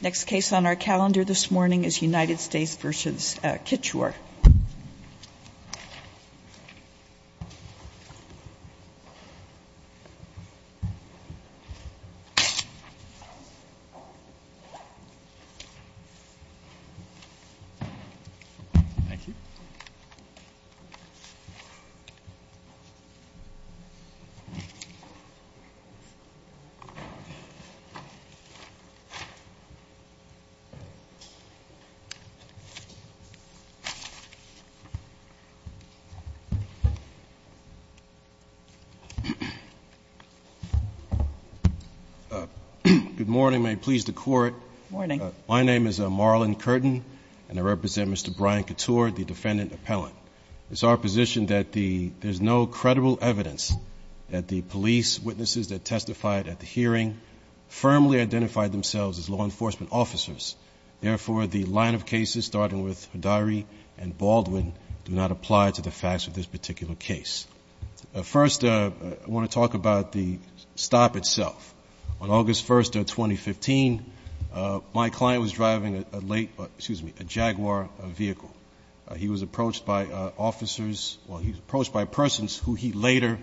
Next case on our calendar this morning is United States v. Kichwar. Good morning, may it please the court. My name is Marlon Curtin and I represent Mr. Brian Couture, the defendant appellant. It's our position that there's no credible evidence that the police witnesses that testified at the hearing firmly identified themselves as law enforcement officers. Therefore, the line of cases starting with Haddari and Baldwin do not apply to the facts of this particular case. First, I want to talk about the stop itself. On August 1st of 2015, my client was driving a late, excuse me, a Jaguar vehicle. He was approached by officers, well he was approached by persons who he later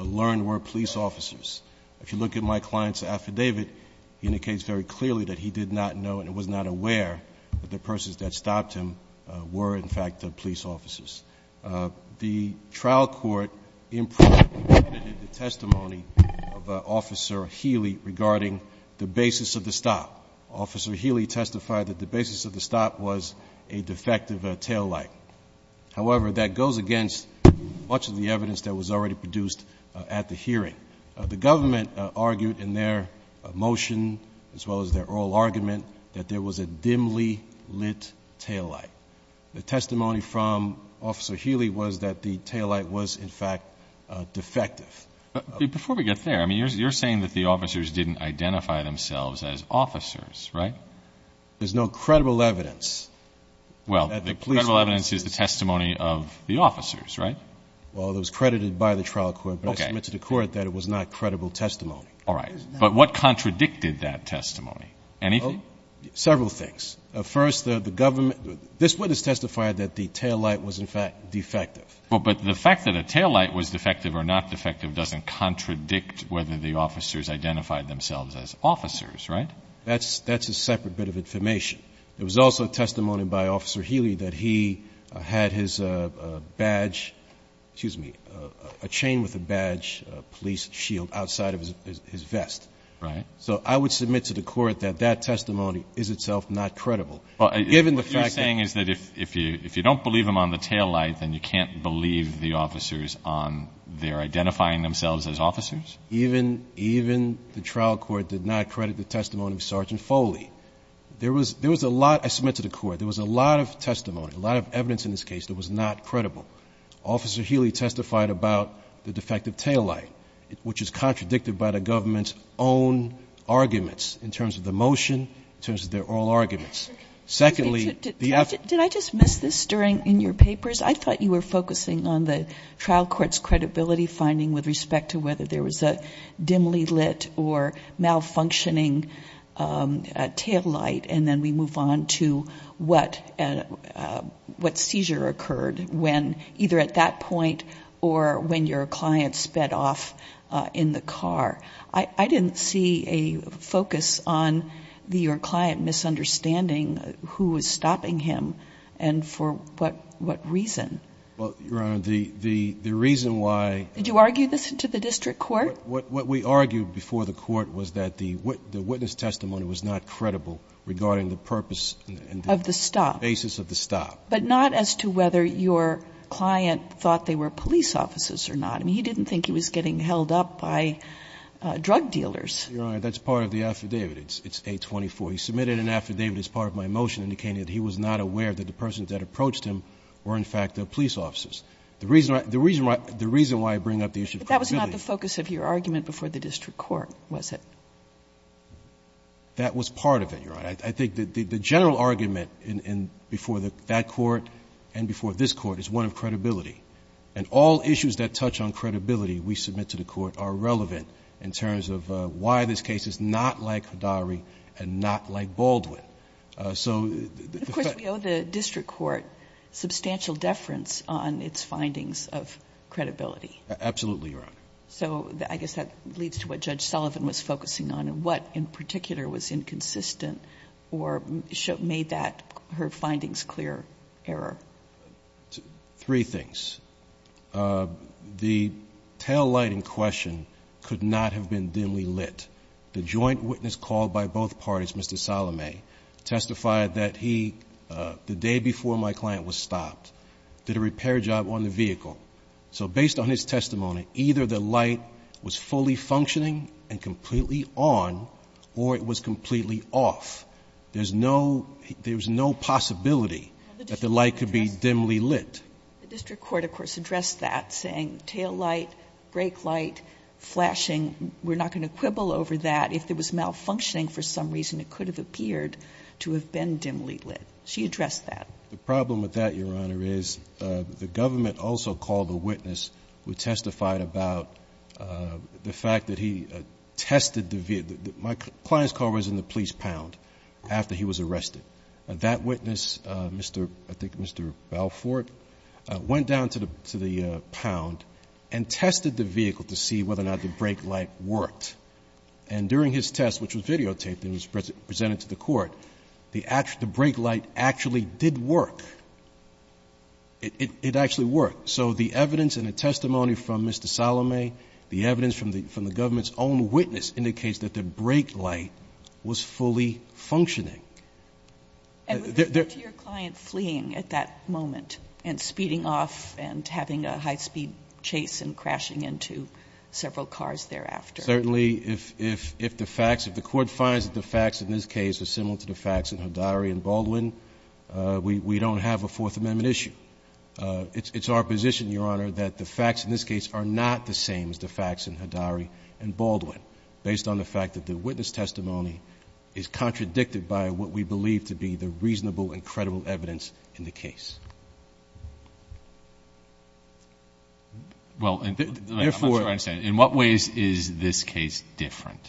learned were police officers. If you look at my client's affidavit, he indicates very clearly that he did not know and was not aware that the persons that stopped him were in fact police officers. The trial court in person presented the testimony of Officer Healy regarding the basis of the stop. Officer Healy testified that the basis of the stop was a defective taillight. However, that goes against much of the evidence that was already produced at the hearing. The government argued in their motion, as well as their oral argument, that there was a dimly lit taillight. The testimony from Officer Healy was that the taillight was in fact defective. Before we get there, you're saying that the officers didn't identify themselves as officers, right? There's no credible evidence. Well, the credible evidence is the testimony of the officers, right? Well, it was credited by the trial court, but I submit to the court that it was not credible testimony. All right, but what contradicted that testimony? Anything? Several things. First, the government, this witness testified that the taillight was in fact defective. Well, but the fact that a taillight was defective or not defective doesn't contradict whether the officers identified themselves as officers, right? That's a separate bit of information. There was also testimony by Officer Healy that he had his badge, excuse me, a chain with a badge, a police shield outside of his vest. Right. So I would submit to the court that that testimony is itself not credible, given the fact that- What you're saying is that if you don't believe them on the taillight, then you can't believe the officers on their identifying themselves as officers? Even the trial court did not credit the testimony of Sergeant Foley. There was a lot, I submit to the court, there was a lot of testimony, a lot of evidence in this case that was not credible. Officer Healy testified about the defective taillight, which is contradicted by the government's own arguments in terms of the motion, in terms of their oral arguments. Secondly, the- Did I just miss this during, in your papers? I thought you were focusing on the trial court's credibility finding with respect to whether there was a dimly lit or malfunctioning taillight, and then we move on to what seizure occurred when, either at that point or when your client sped off in the car. I didn't see a focus on your client misunderstanding who was stopping him and for what reason. Well, Your Honor, the reason why- Did you argue this to the district court? What we argued before the court was that the witness testimony was not credible regarding the purpose and- Of the stop. Basis of the stop. But not as to whether your client thought they were police officers or not. I mean, he didn't think he was getting held up by drug dealers. Your Honor, that's part of the affidavit, it's 824. He submitted an affidavit as part of my motion indicating that he was not aware that the persons that approached him were, in fact, police officers. The reason why I bring up the issue of credibility- But that was not the focus of your argument before the district court, was it? That was part of it, Your Honor. I think the general argument before that court and before this court is one of credibility. And all issues that touch on credibility we submit to the court are relevant in terms of why this case is not like Hidari and not like Baldwin. So the fact- Of course, we owe the district court substantial deference on its findings of credibility. Absolutely, Your Honor. So I guess that leads to what Judge Sullivan was focusing on and what in particular was inconsistent or made that her findings clear error. Three things. The taillight in question could not have been dimly lit. The joint witness called by both parties, Mr. Salome, testified that he, the day before my client was stopped, did a repair job on the vehicle. So based on his testimony, either the light was fully functioning and completely on or it was completely off. There's no possibility that the light could be dimly lit. The district court, of course, addressed that, saying taillight, brake light, flashing. We're not going to quibble over that. If it was malfunctioning for some reason, it could have appeared to have been dimly lit. She addressed that. The problem with that, Your Honor, is the government also called a witness who testified about the fact that he tested the vehicle. My client's car was in the police pound after he was arrested. That witness, I think Mr. Balfour, went down to the pound and tested the vehicle to see whether or not the brake light worked. And during his test, which was videotaped and was presented to the court, the brake light actually did work. It actually worked. So the evidence and the testimony from Mr. Salome, the evidence from the government's own witness, indicates that the brake light was fully functioning. And would you refer to your client fleeing at that moment and speeding off and having a high speed chase and crashing into several cars thereafter? Certainly, if the facts, if the court finds that the facts in this case are similar to the facts in Haddari and Baldwin, we don't have a Fourth Amendment issue. It's our position, Your Honor, that the facts in this case are not the same as the facts in Haddari and Baldwin. Based on the fact that the witness testimony is contradicted by what we believe to be the reasonable and credible evidence in the case. Well, I'm not sure I understand. In what ways is this case different?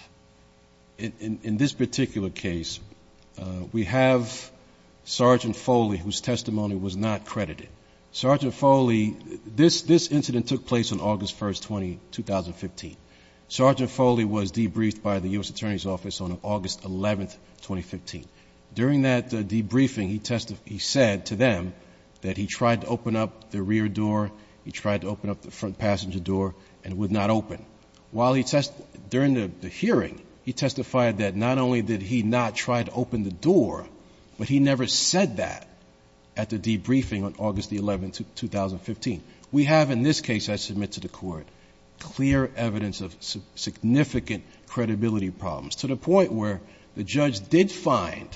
In this particular case, we have Sergeant Foley, whose testimony was not credited. Sergeant Foley, this incident took place on August 1st, 2015. Sergeant Foley was debriefed by the US Attorney's Office on August 11th, 2015. During that debriefing, he said to them that he tried to open up the rear door, he tried to open up the front passenger door, and it would not open. While he test, during the hearing, he testified that not only did he not try to open the door, but he never said that at the debriefing on August the 11th, 2015. We have in this case, I submit to the court, clear evidence of significant credibility problems, to the point where the judge did find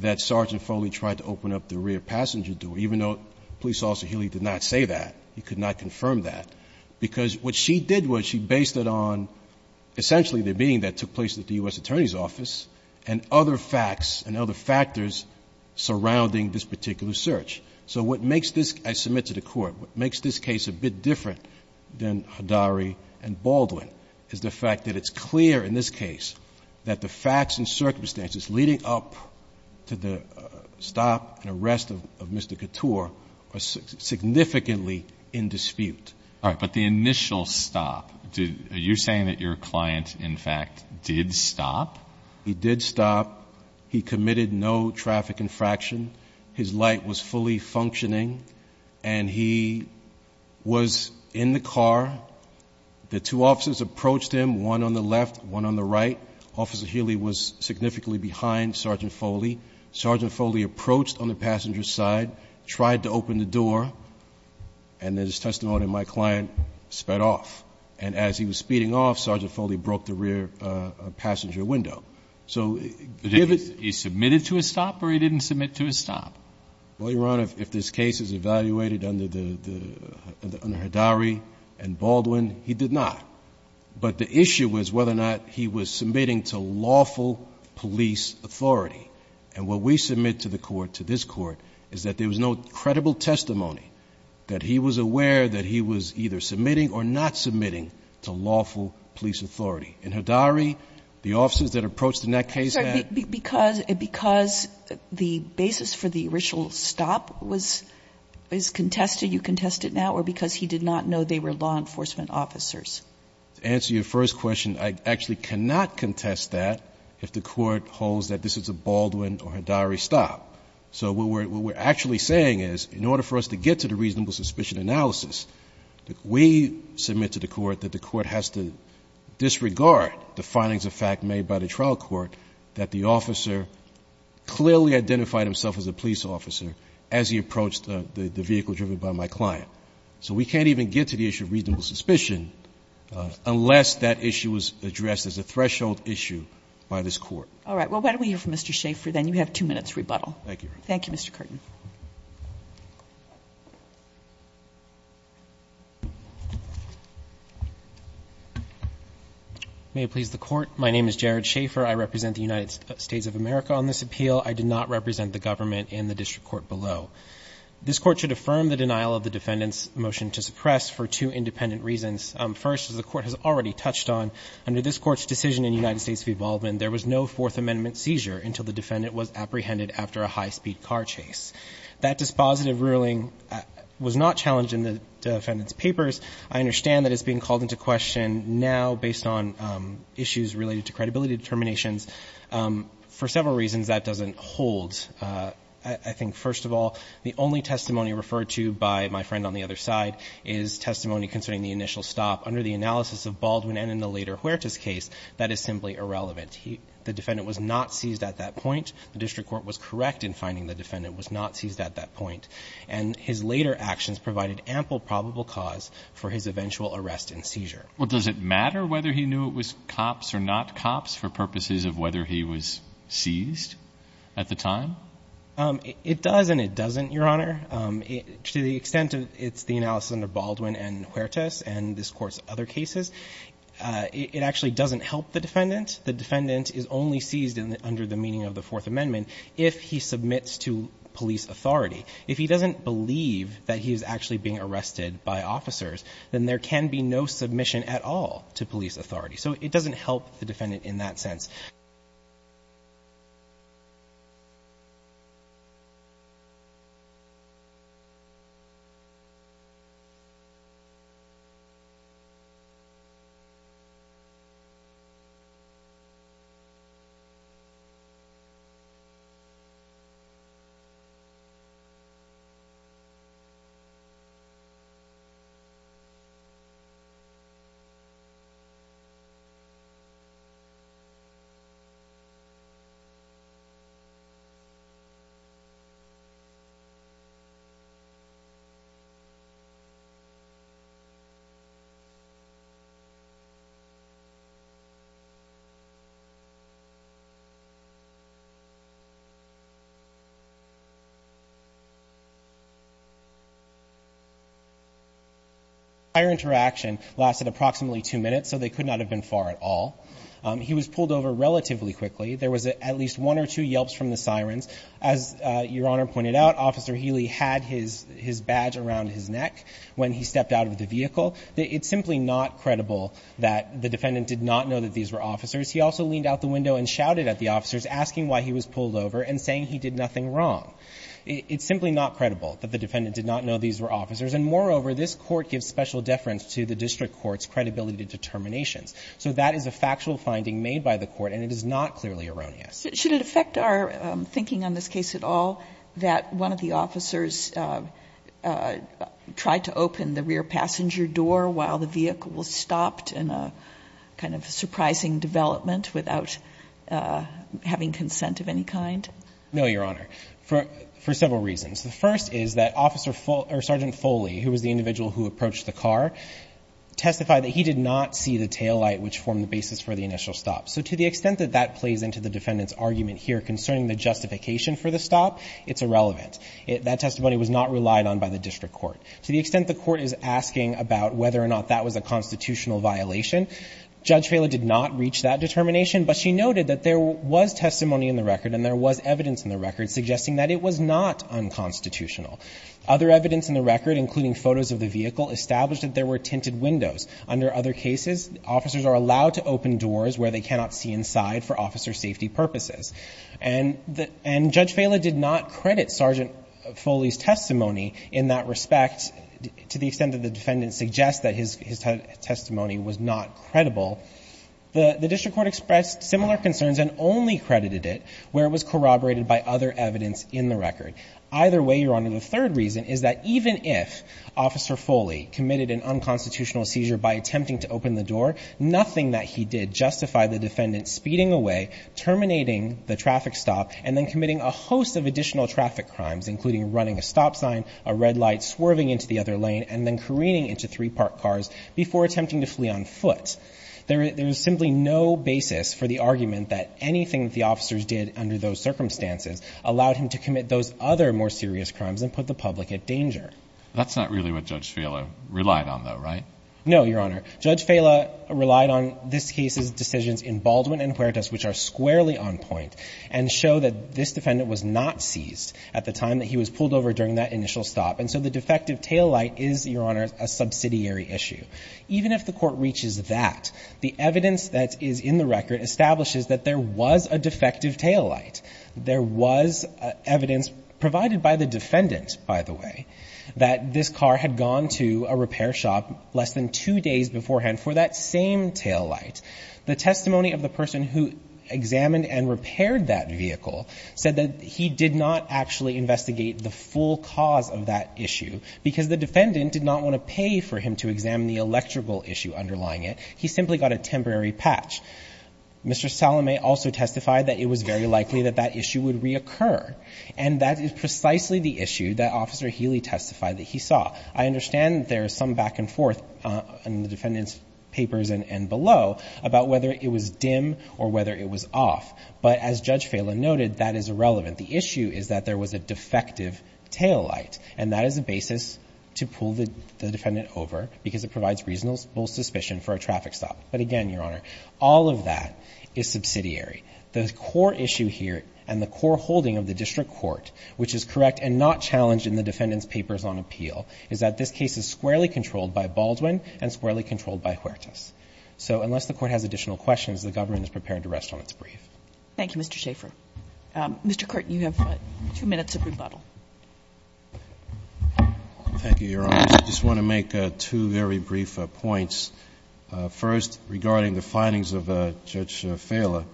that Sergeant Foley tried to open up the rear passenger door, even though Police Officer Healy did not say that, he could not confirm that. Because what she did was she based it on, essentially, the meeting that took place at the US Attorney's Office, and other facts and other factors surrounding this particular search. So what makes this, I submit to the court, what makes this case a bit different than Haddari and it's clear in this case that the facts and circumstances leading up to the stop and arrest of Mr. Couture are significantly in dispute. All right, but the initial stop, are you saying that your client, in fact, did stop? He did stop, he committed no traffic infraction, his light was fully functioning, and he was in the car. The two officers approached him, one on the left, one on the right. Officer Healy was significantly behind Sergeant Foley. Sergeant Foley approached on the passenger side, tried to open the door, and as testimony, my client sped off. And as he was speeding off, Sergeant Foley broke the rear passenger window. So- He submitted to a stop or he didn't submit to a stop? Well, Your Honor, if this case is evaluated under Haddari and Baldwin, he did not. But the issue was whether or not he was submitting to lawful police authority. And what we submit to the court, to this court, is that there was no credible testimony that he was aware that he was either submitting or not submitting to lawful police authority. In Haddari, the officers that approached in that case had- Because the basis for the original stop is contested, you contest it now, or because he did not know they were law enforcement officers? To answer your first question, I actually cannot contest that if the court holds that this is a Baldwin or Haddari stop. So what we're actually saying is, in order for us to get to the reasonable suspicion analysis, we submit to the court that the court has to disregard the findings of fact made by the trial court that the officer clearly identified himself as a police officer as he approached the vehicle driven by my client. So we can't even get to the issue of reasonable suspicion unless that issue was addressed as a threshold issue by this court. All right, well, why don't we hear from Mr. Schaffer then? You have two minutes rebuttal. Thank you. Thank you, Mr. Curtin. May it please the court, my name is Jared Schaffer. I represent the United States of America on this appeal. I did not represent the government in the district court below. This court should affirm the denial of the defendant's motion to suppress for two independent reasons. First, as the court has already touched on, under this court's decision in United States v Baldwin, there was no fourth amendment seizure until the defendant was apprehended after a high speed car chase. That dispositive ruling was not challenged in the defendant's papers. I understand that it's being called into question now based on issues related to credibility determinations. For several reasons, that doesn't hold. I think, first of all, the only testimony referred to by my friend on the other side is testimony concerning the initial stop. Under the analysis of Baldwin and in the later Huertas case, that is simply irrelevant. The defendant was not seized at that point. The district court was correct in finding the defendant was not seized at that point. And his later actions provided ample probable cause for his eventual arrest and seizure. Well, does it matter whether he knew it was cops or not cops for purposes of whether he was seized at the time? It does and it doesn't, Your Honor. To the extent of it's the analysis under Baldwin and Huertas and this court's other cases, it actually doesn't help the defendant. The defendant is only seized under the meaning of the Fourth Amendment if he submits to police authority. If he doesn't believe that he's actually being arrested by officers, then there can be no submission at all to police authority. So it doesn't help the defendant in that sense. The entire interaction lasted approximately two minutes, so they could not have been far at all. He was pulled over relatively quickly. There was at least one or two yelps from the sirens. As Your Honor pointed out, Officer Healy had his badge around his neck when he stepped out of the vehicle. It's simply not credible that the defendant did not know that these were officers. He also leaned out the window and shouted at the officers, asking why he was pulled over and saying he did nothing wrong. It's simply not credible that the defendant did not know these were officers. And moreover, this Court gives special deference to the district court's credibility determinations. So that is a factual finding made by the Court and it is not clearly erroneous. Should it affect our thinking on this case at all that one of the officers tried to open the rear passenger door while the vehicle was stopped in a kind of surprising development without having consent of any kind? No, Your Honor, for several reasons. The first is that Sergeant Foley, who was the individual who approached the car, testified that he did not see the taillight which formed the basis for the initial stop. So to the extent that that plays into the defendant's argument here concerning the justification for the stop, it's irrelevant. That testimony was not relied on by the district court. To the extent the court is asking about whether or not that was a constitutional violation, Judge Foley did not reach that determination. But she noted that there was testimony in the record and there was evidence in the record suggesting that it was not unconstitutional. Other evidence in the record, including photos of the vehicle, established that there were tinted windows. Under other cases, officers are allowed to open doors where they cannot see inside for officer safety purposes. And Judge Fela did not credit Sergeant Foley's testimony in that respect to the extent that the defendant suggests that his testimony was not credible. The district court expressed similar concerns and only credited it where it was corroborated by other evidence in the record. Either way, Your Honor, the third reason is that even if Officer Foley committed an unconstitutional seizure by attempting to open the door, nothing that he did justified the defendant speeding away, terminating the traffic stop, and then committing a host of additional traffic crimes, including running a stop sign, a red light, swerving into the other lane, and then careening into three-park cars before attempting to flee on foot. There is simply no basis for the argument that anything that the officers did under those circumstances allowed him to commit those other more serious crimes and put the public at danger. That's not really what Judge Fela relied on, though, right? No, Your Honor. Judge Fela relied on this case's decisions in Baldwin and Huertas, which are squarely on point, and show that this defendant was not seized at the time that he was pulled over during that initial stop. And so the defective taillight is, Your Honor, a subsidiary issue. Even if the court reaches that, the evidence that is in the record establishes that there was a defective taillight. There was evidence, provided by the defendant, by the way, that this car had gone to a repair shop less than two days beforehand for that same taillight. The testimony of the person who examined and repaired that vehicle said that he did not actually investigate the full cause of that issue. Because the defendant did not want to pay for him to examine the electrical issue underlying it. He simply got a temporary patch. Mr. Salome also testified that it was very likely that that issue would reoccur. And that is precisely the issue that Officer Healy testified that he saw. I understand there is some back and forth in the defendant's papers and below about whether it was dim or whether it was off. But as Judge Fela noted, that is irrelevant. The issue is that there was a defective taillight. And that is a basis to pull the defendant over, because it provides reasonable suspicion for a traffic stop. But again, Your Honor, all of that is subsidiary. The core issue here and the core holding of the district court, which is correct and not challenged in the defendant's papers on appeal, is that this case is squarely controlled by Baldwin and squarely controlled by Huertas. So unless the Court has additional questions, the government is prepared to rest on its brief. Thank you, Mr. Schaffer. Mr. Curtin, you have two minutes of rebuttal. Thank you, Your Honor. I just want to make two very brief points. First, regarding the findings of Judge Fela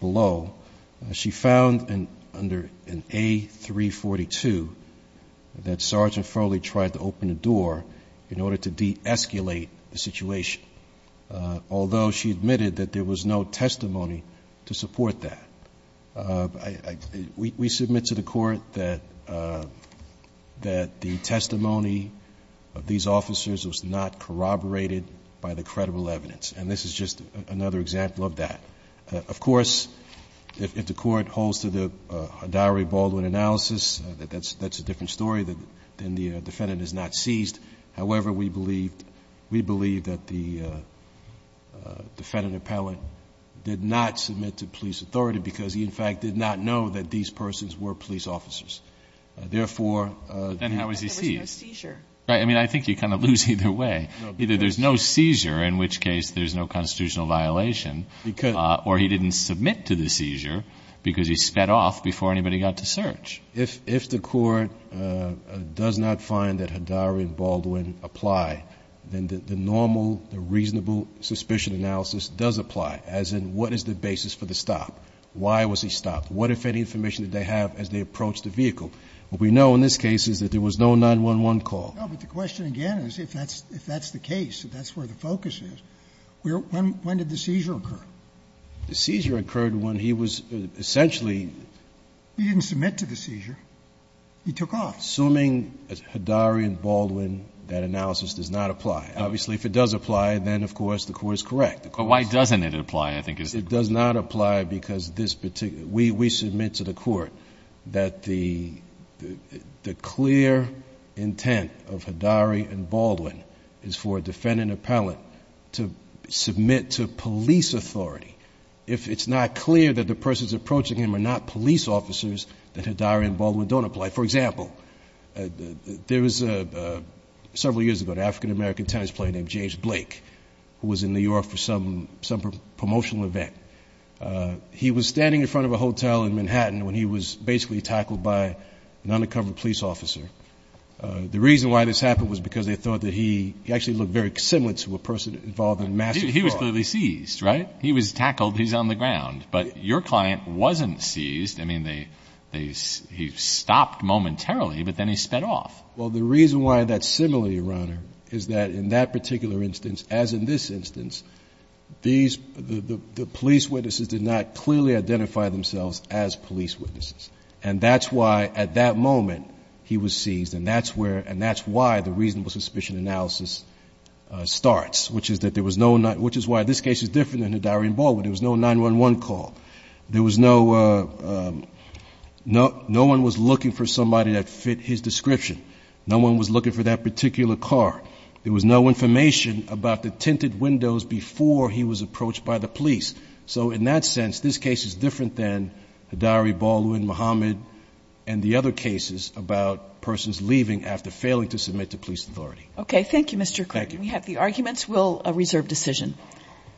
below. She found under an A342 that Sergeant Foley tried to open a door in order to de-escalate the situation. Although she admitted that there was no testimony to support that. We submit to the court that the testimony of these officers was not corroborated by the credible evidence. And this is just another example of that. Of course, if the court holds to the diary Baldwin analysis, that's a different story, then the defendant is not seized. However, we believe that the defendant appellant did not submit to police authority because he, in fact, did not know that these persons were police officers. Therefore, then how is he seized? There was no seizure. Right, I mean, I think you kind of lose either way. Either there's no seizure, in which case there's no constitutional violation, or he didn't submit to the seizure because he sped off before anybody got to search. If the court does not find that Hadari and Baldwin apply, then the normal, the reasonable suspicion analysis does apply. As in, what is the basis for the stop? Why was he stopped? What if any information did they have as they approached the vehicle? What we know in this case is that there was no 911 call. No, but the question again is if that's the case, if that's where the focus is, when did the seizure occur? The seizure occurred when he was essentially- He didn't submit to the seizure. He took off. Assuming Hadari and Baldwin, that analysis does not apply. Obviously, if it does apply, then, of course, the court is correct. But why doesn't it apply, I think is- It does not apply because we submit to the court that the clear intent of Hadari and Baldwin is for a defendant appellate to submit to police authority. If it's not clear that the persons approaching him are not police officers, then Hadari and Baldwin don't apply. For example, several years ago, an African American tennis player named James Blake, who was in New York for some promotional event, he was standing in front of a hotel in Manhattan when he was basically tackled by an undercover police officer. The reason why this happened was because they thought that he actually looked very similar to a person involved in a massive fraud. He was clearly seized, right? He was tackled. He's on the ground. But your client wasn't seized. I mean, he stopped momentarily, but then he sped off. Well, the reason why that's similar, Your Honor, is that in that particular instance, as in this instance, the police witnesses did not clearly identify themselves as police witnesses. And that's why, at that moment, he was seized. And that's why the reasonable suspicion analysis starts, which is that there was no- Which is why this case is different than Hadari and Baldwin. There was no 911 call. There was no- No one was looking for somebody that fit his description. No one was looking for that particular car. There was no information about the tinted windows before he was approached by the police. So in that sense, this case is different than Hadari, Baldwin, Muhammad, and the other cases about persons leaving after failing to submit to police authority. Okay. Thank you, Mr. Quinn. We have the arguments. We'll reserve decision.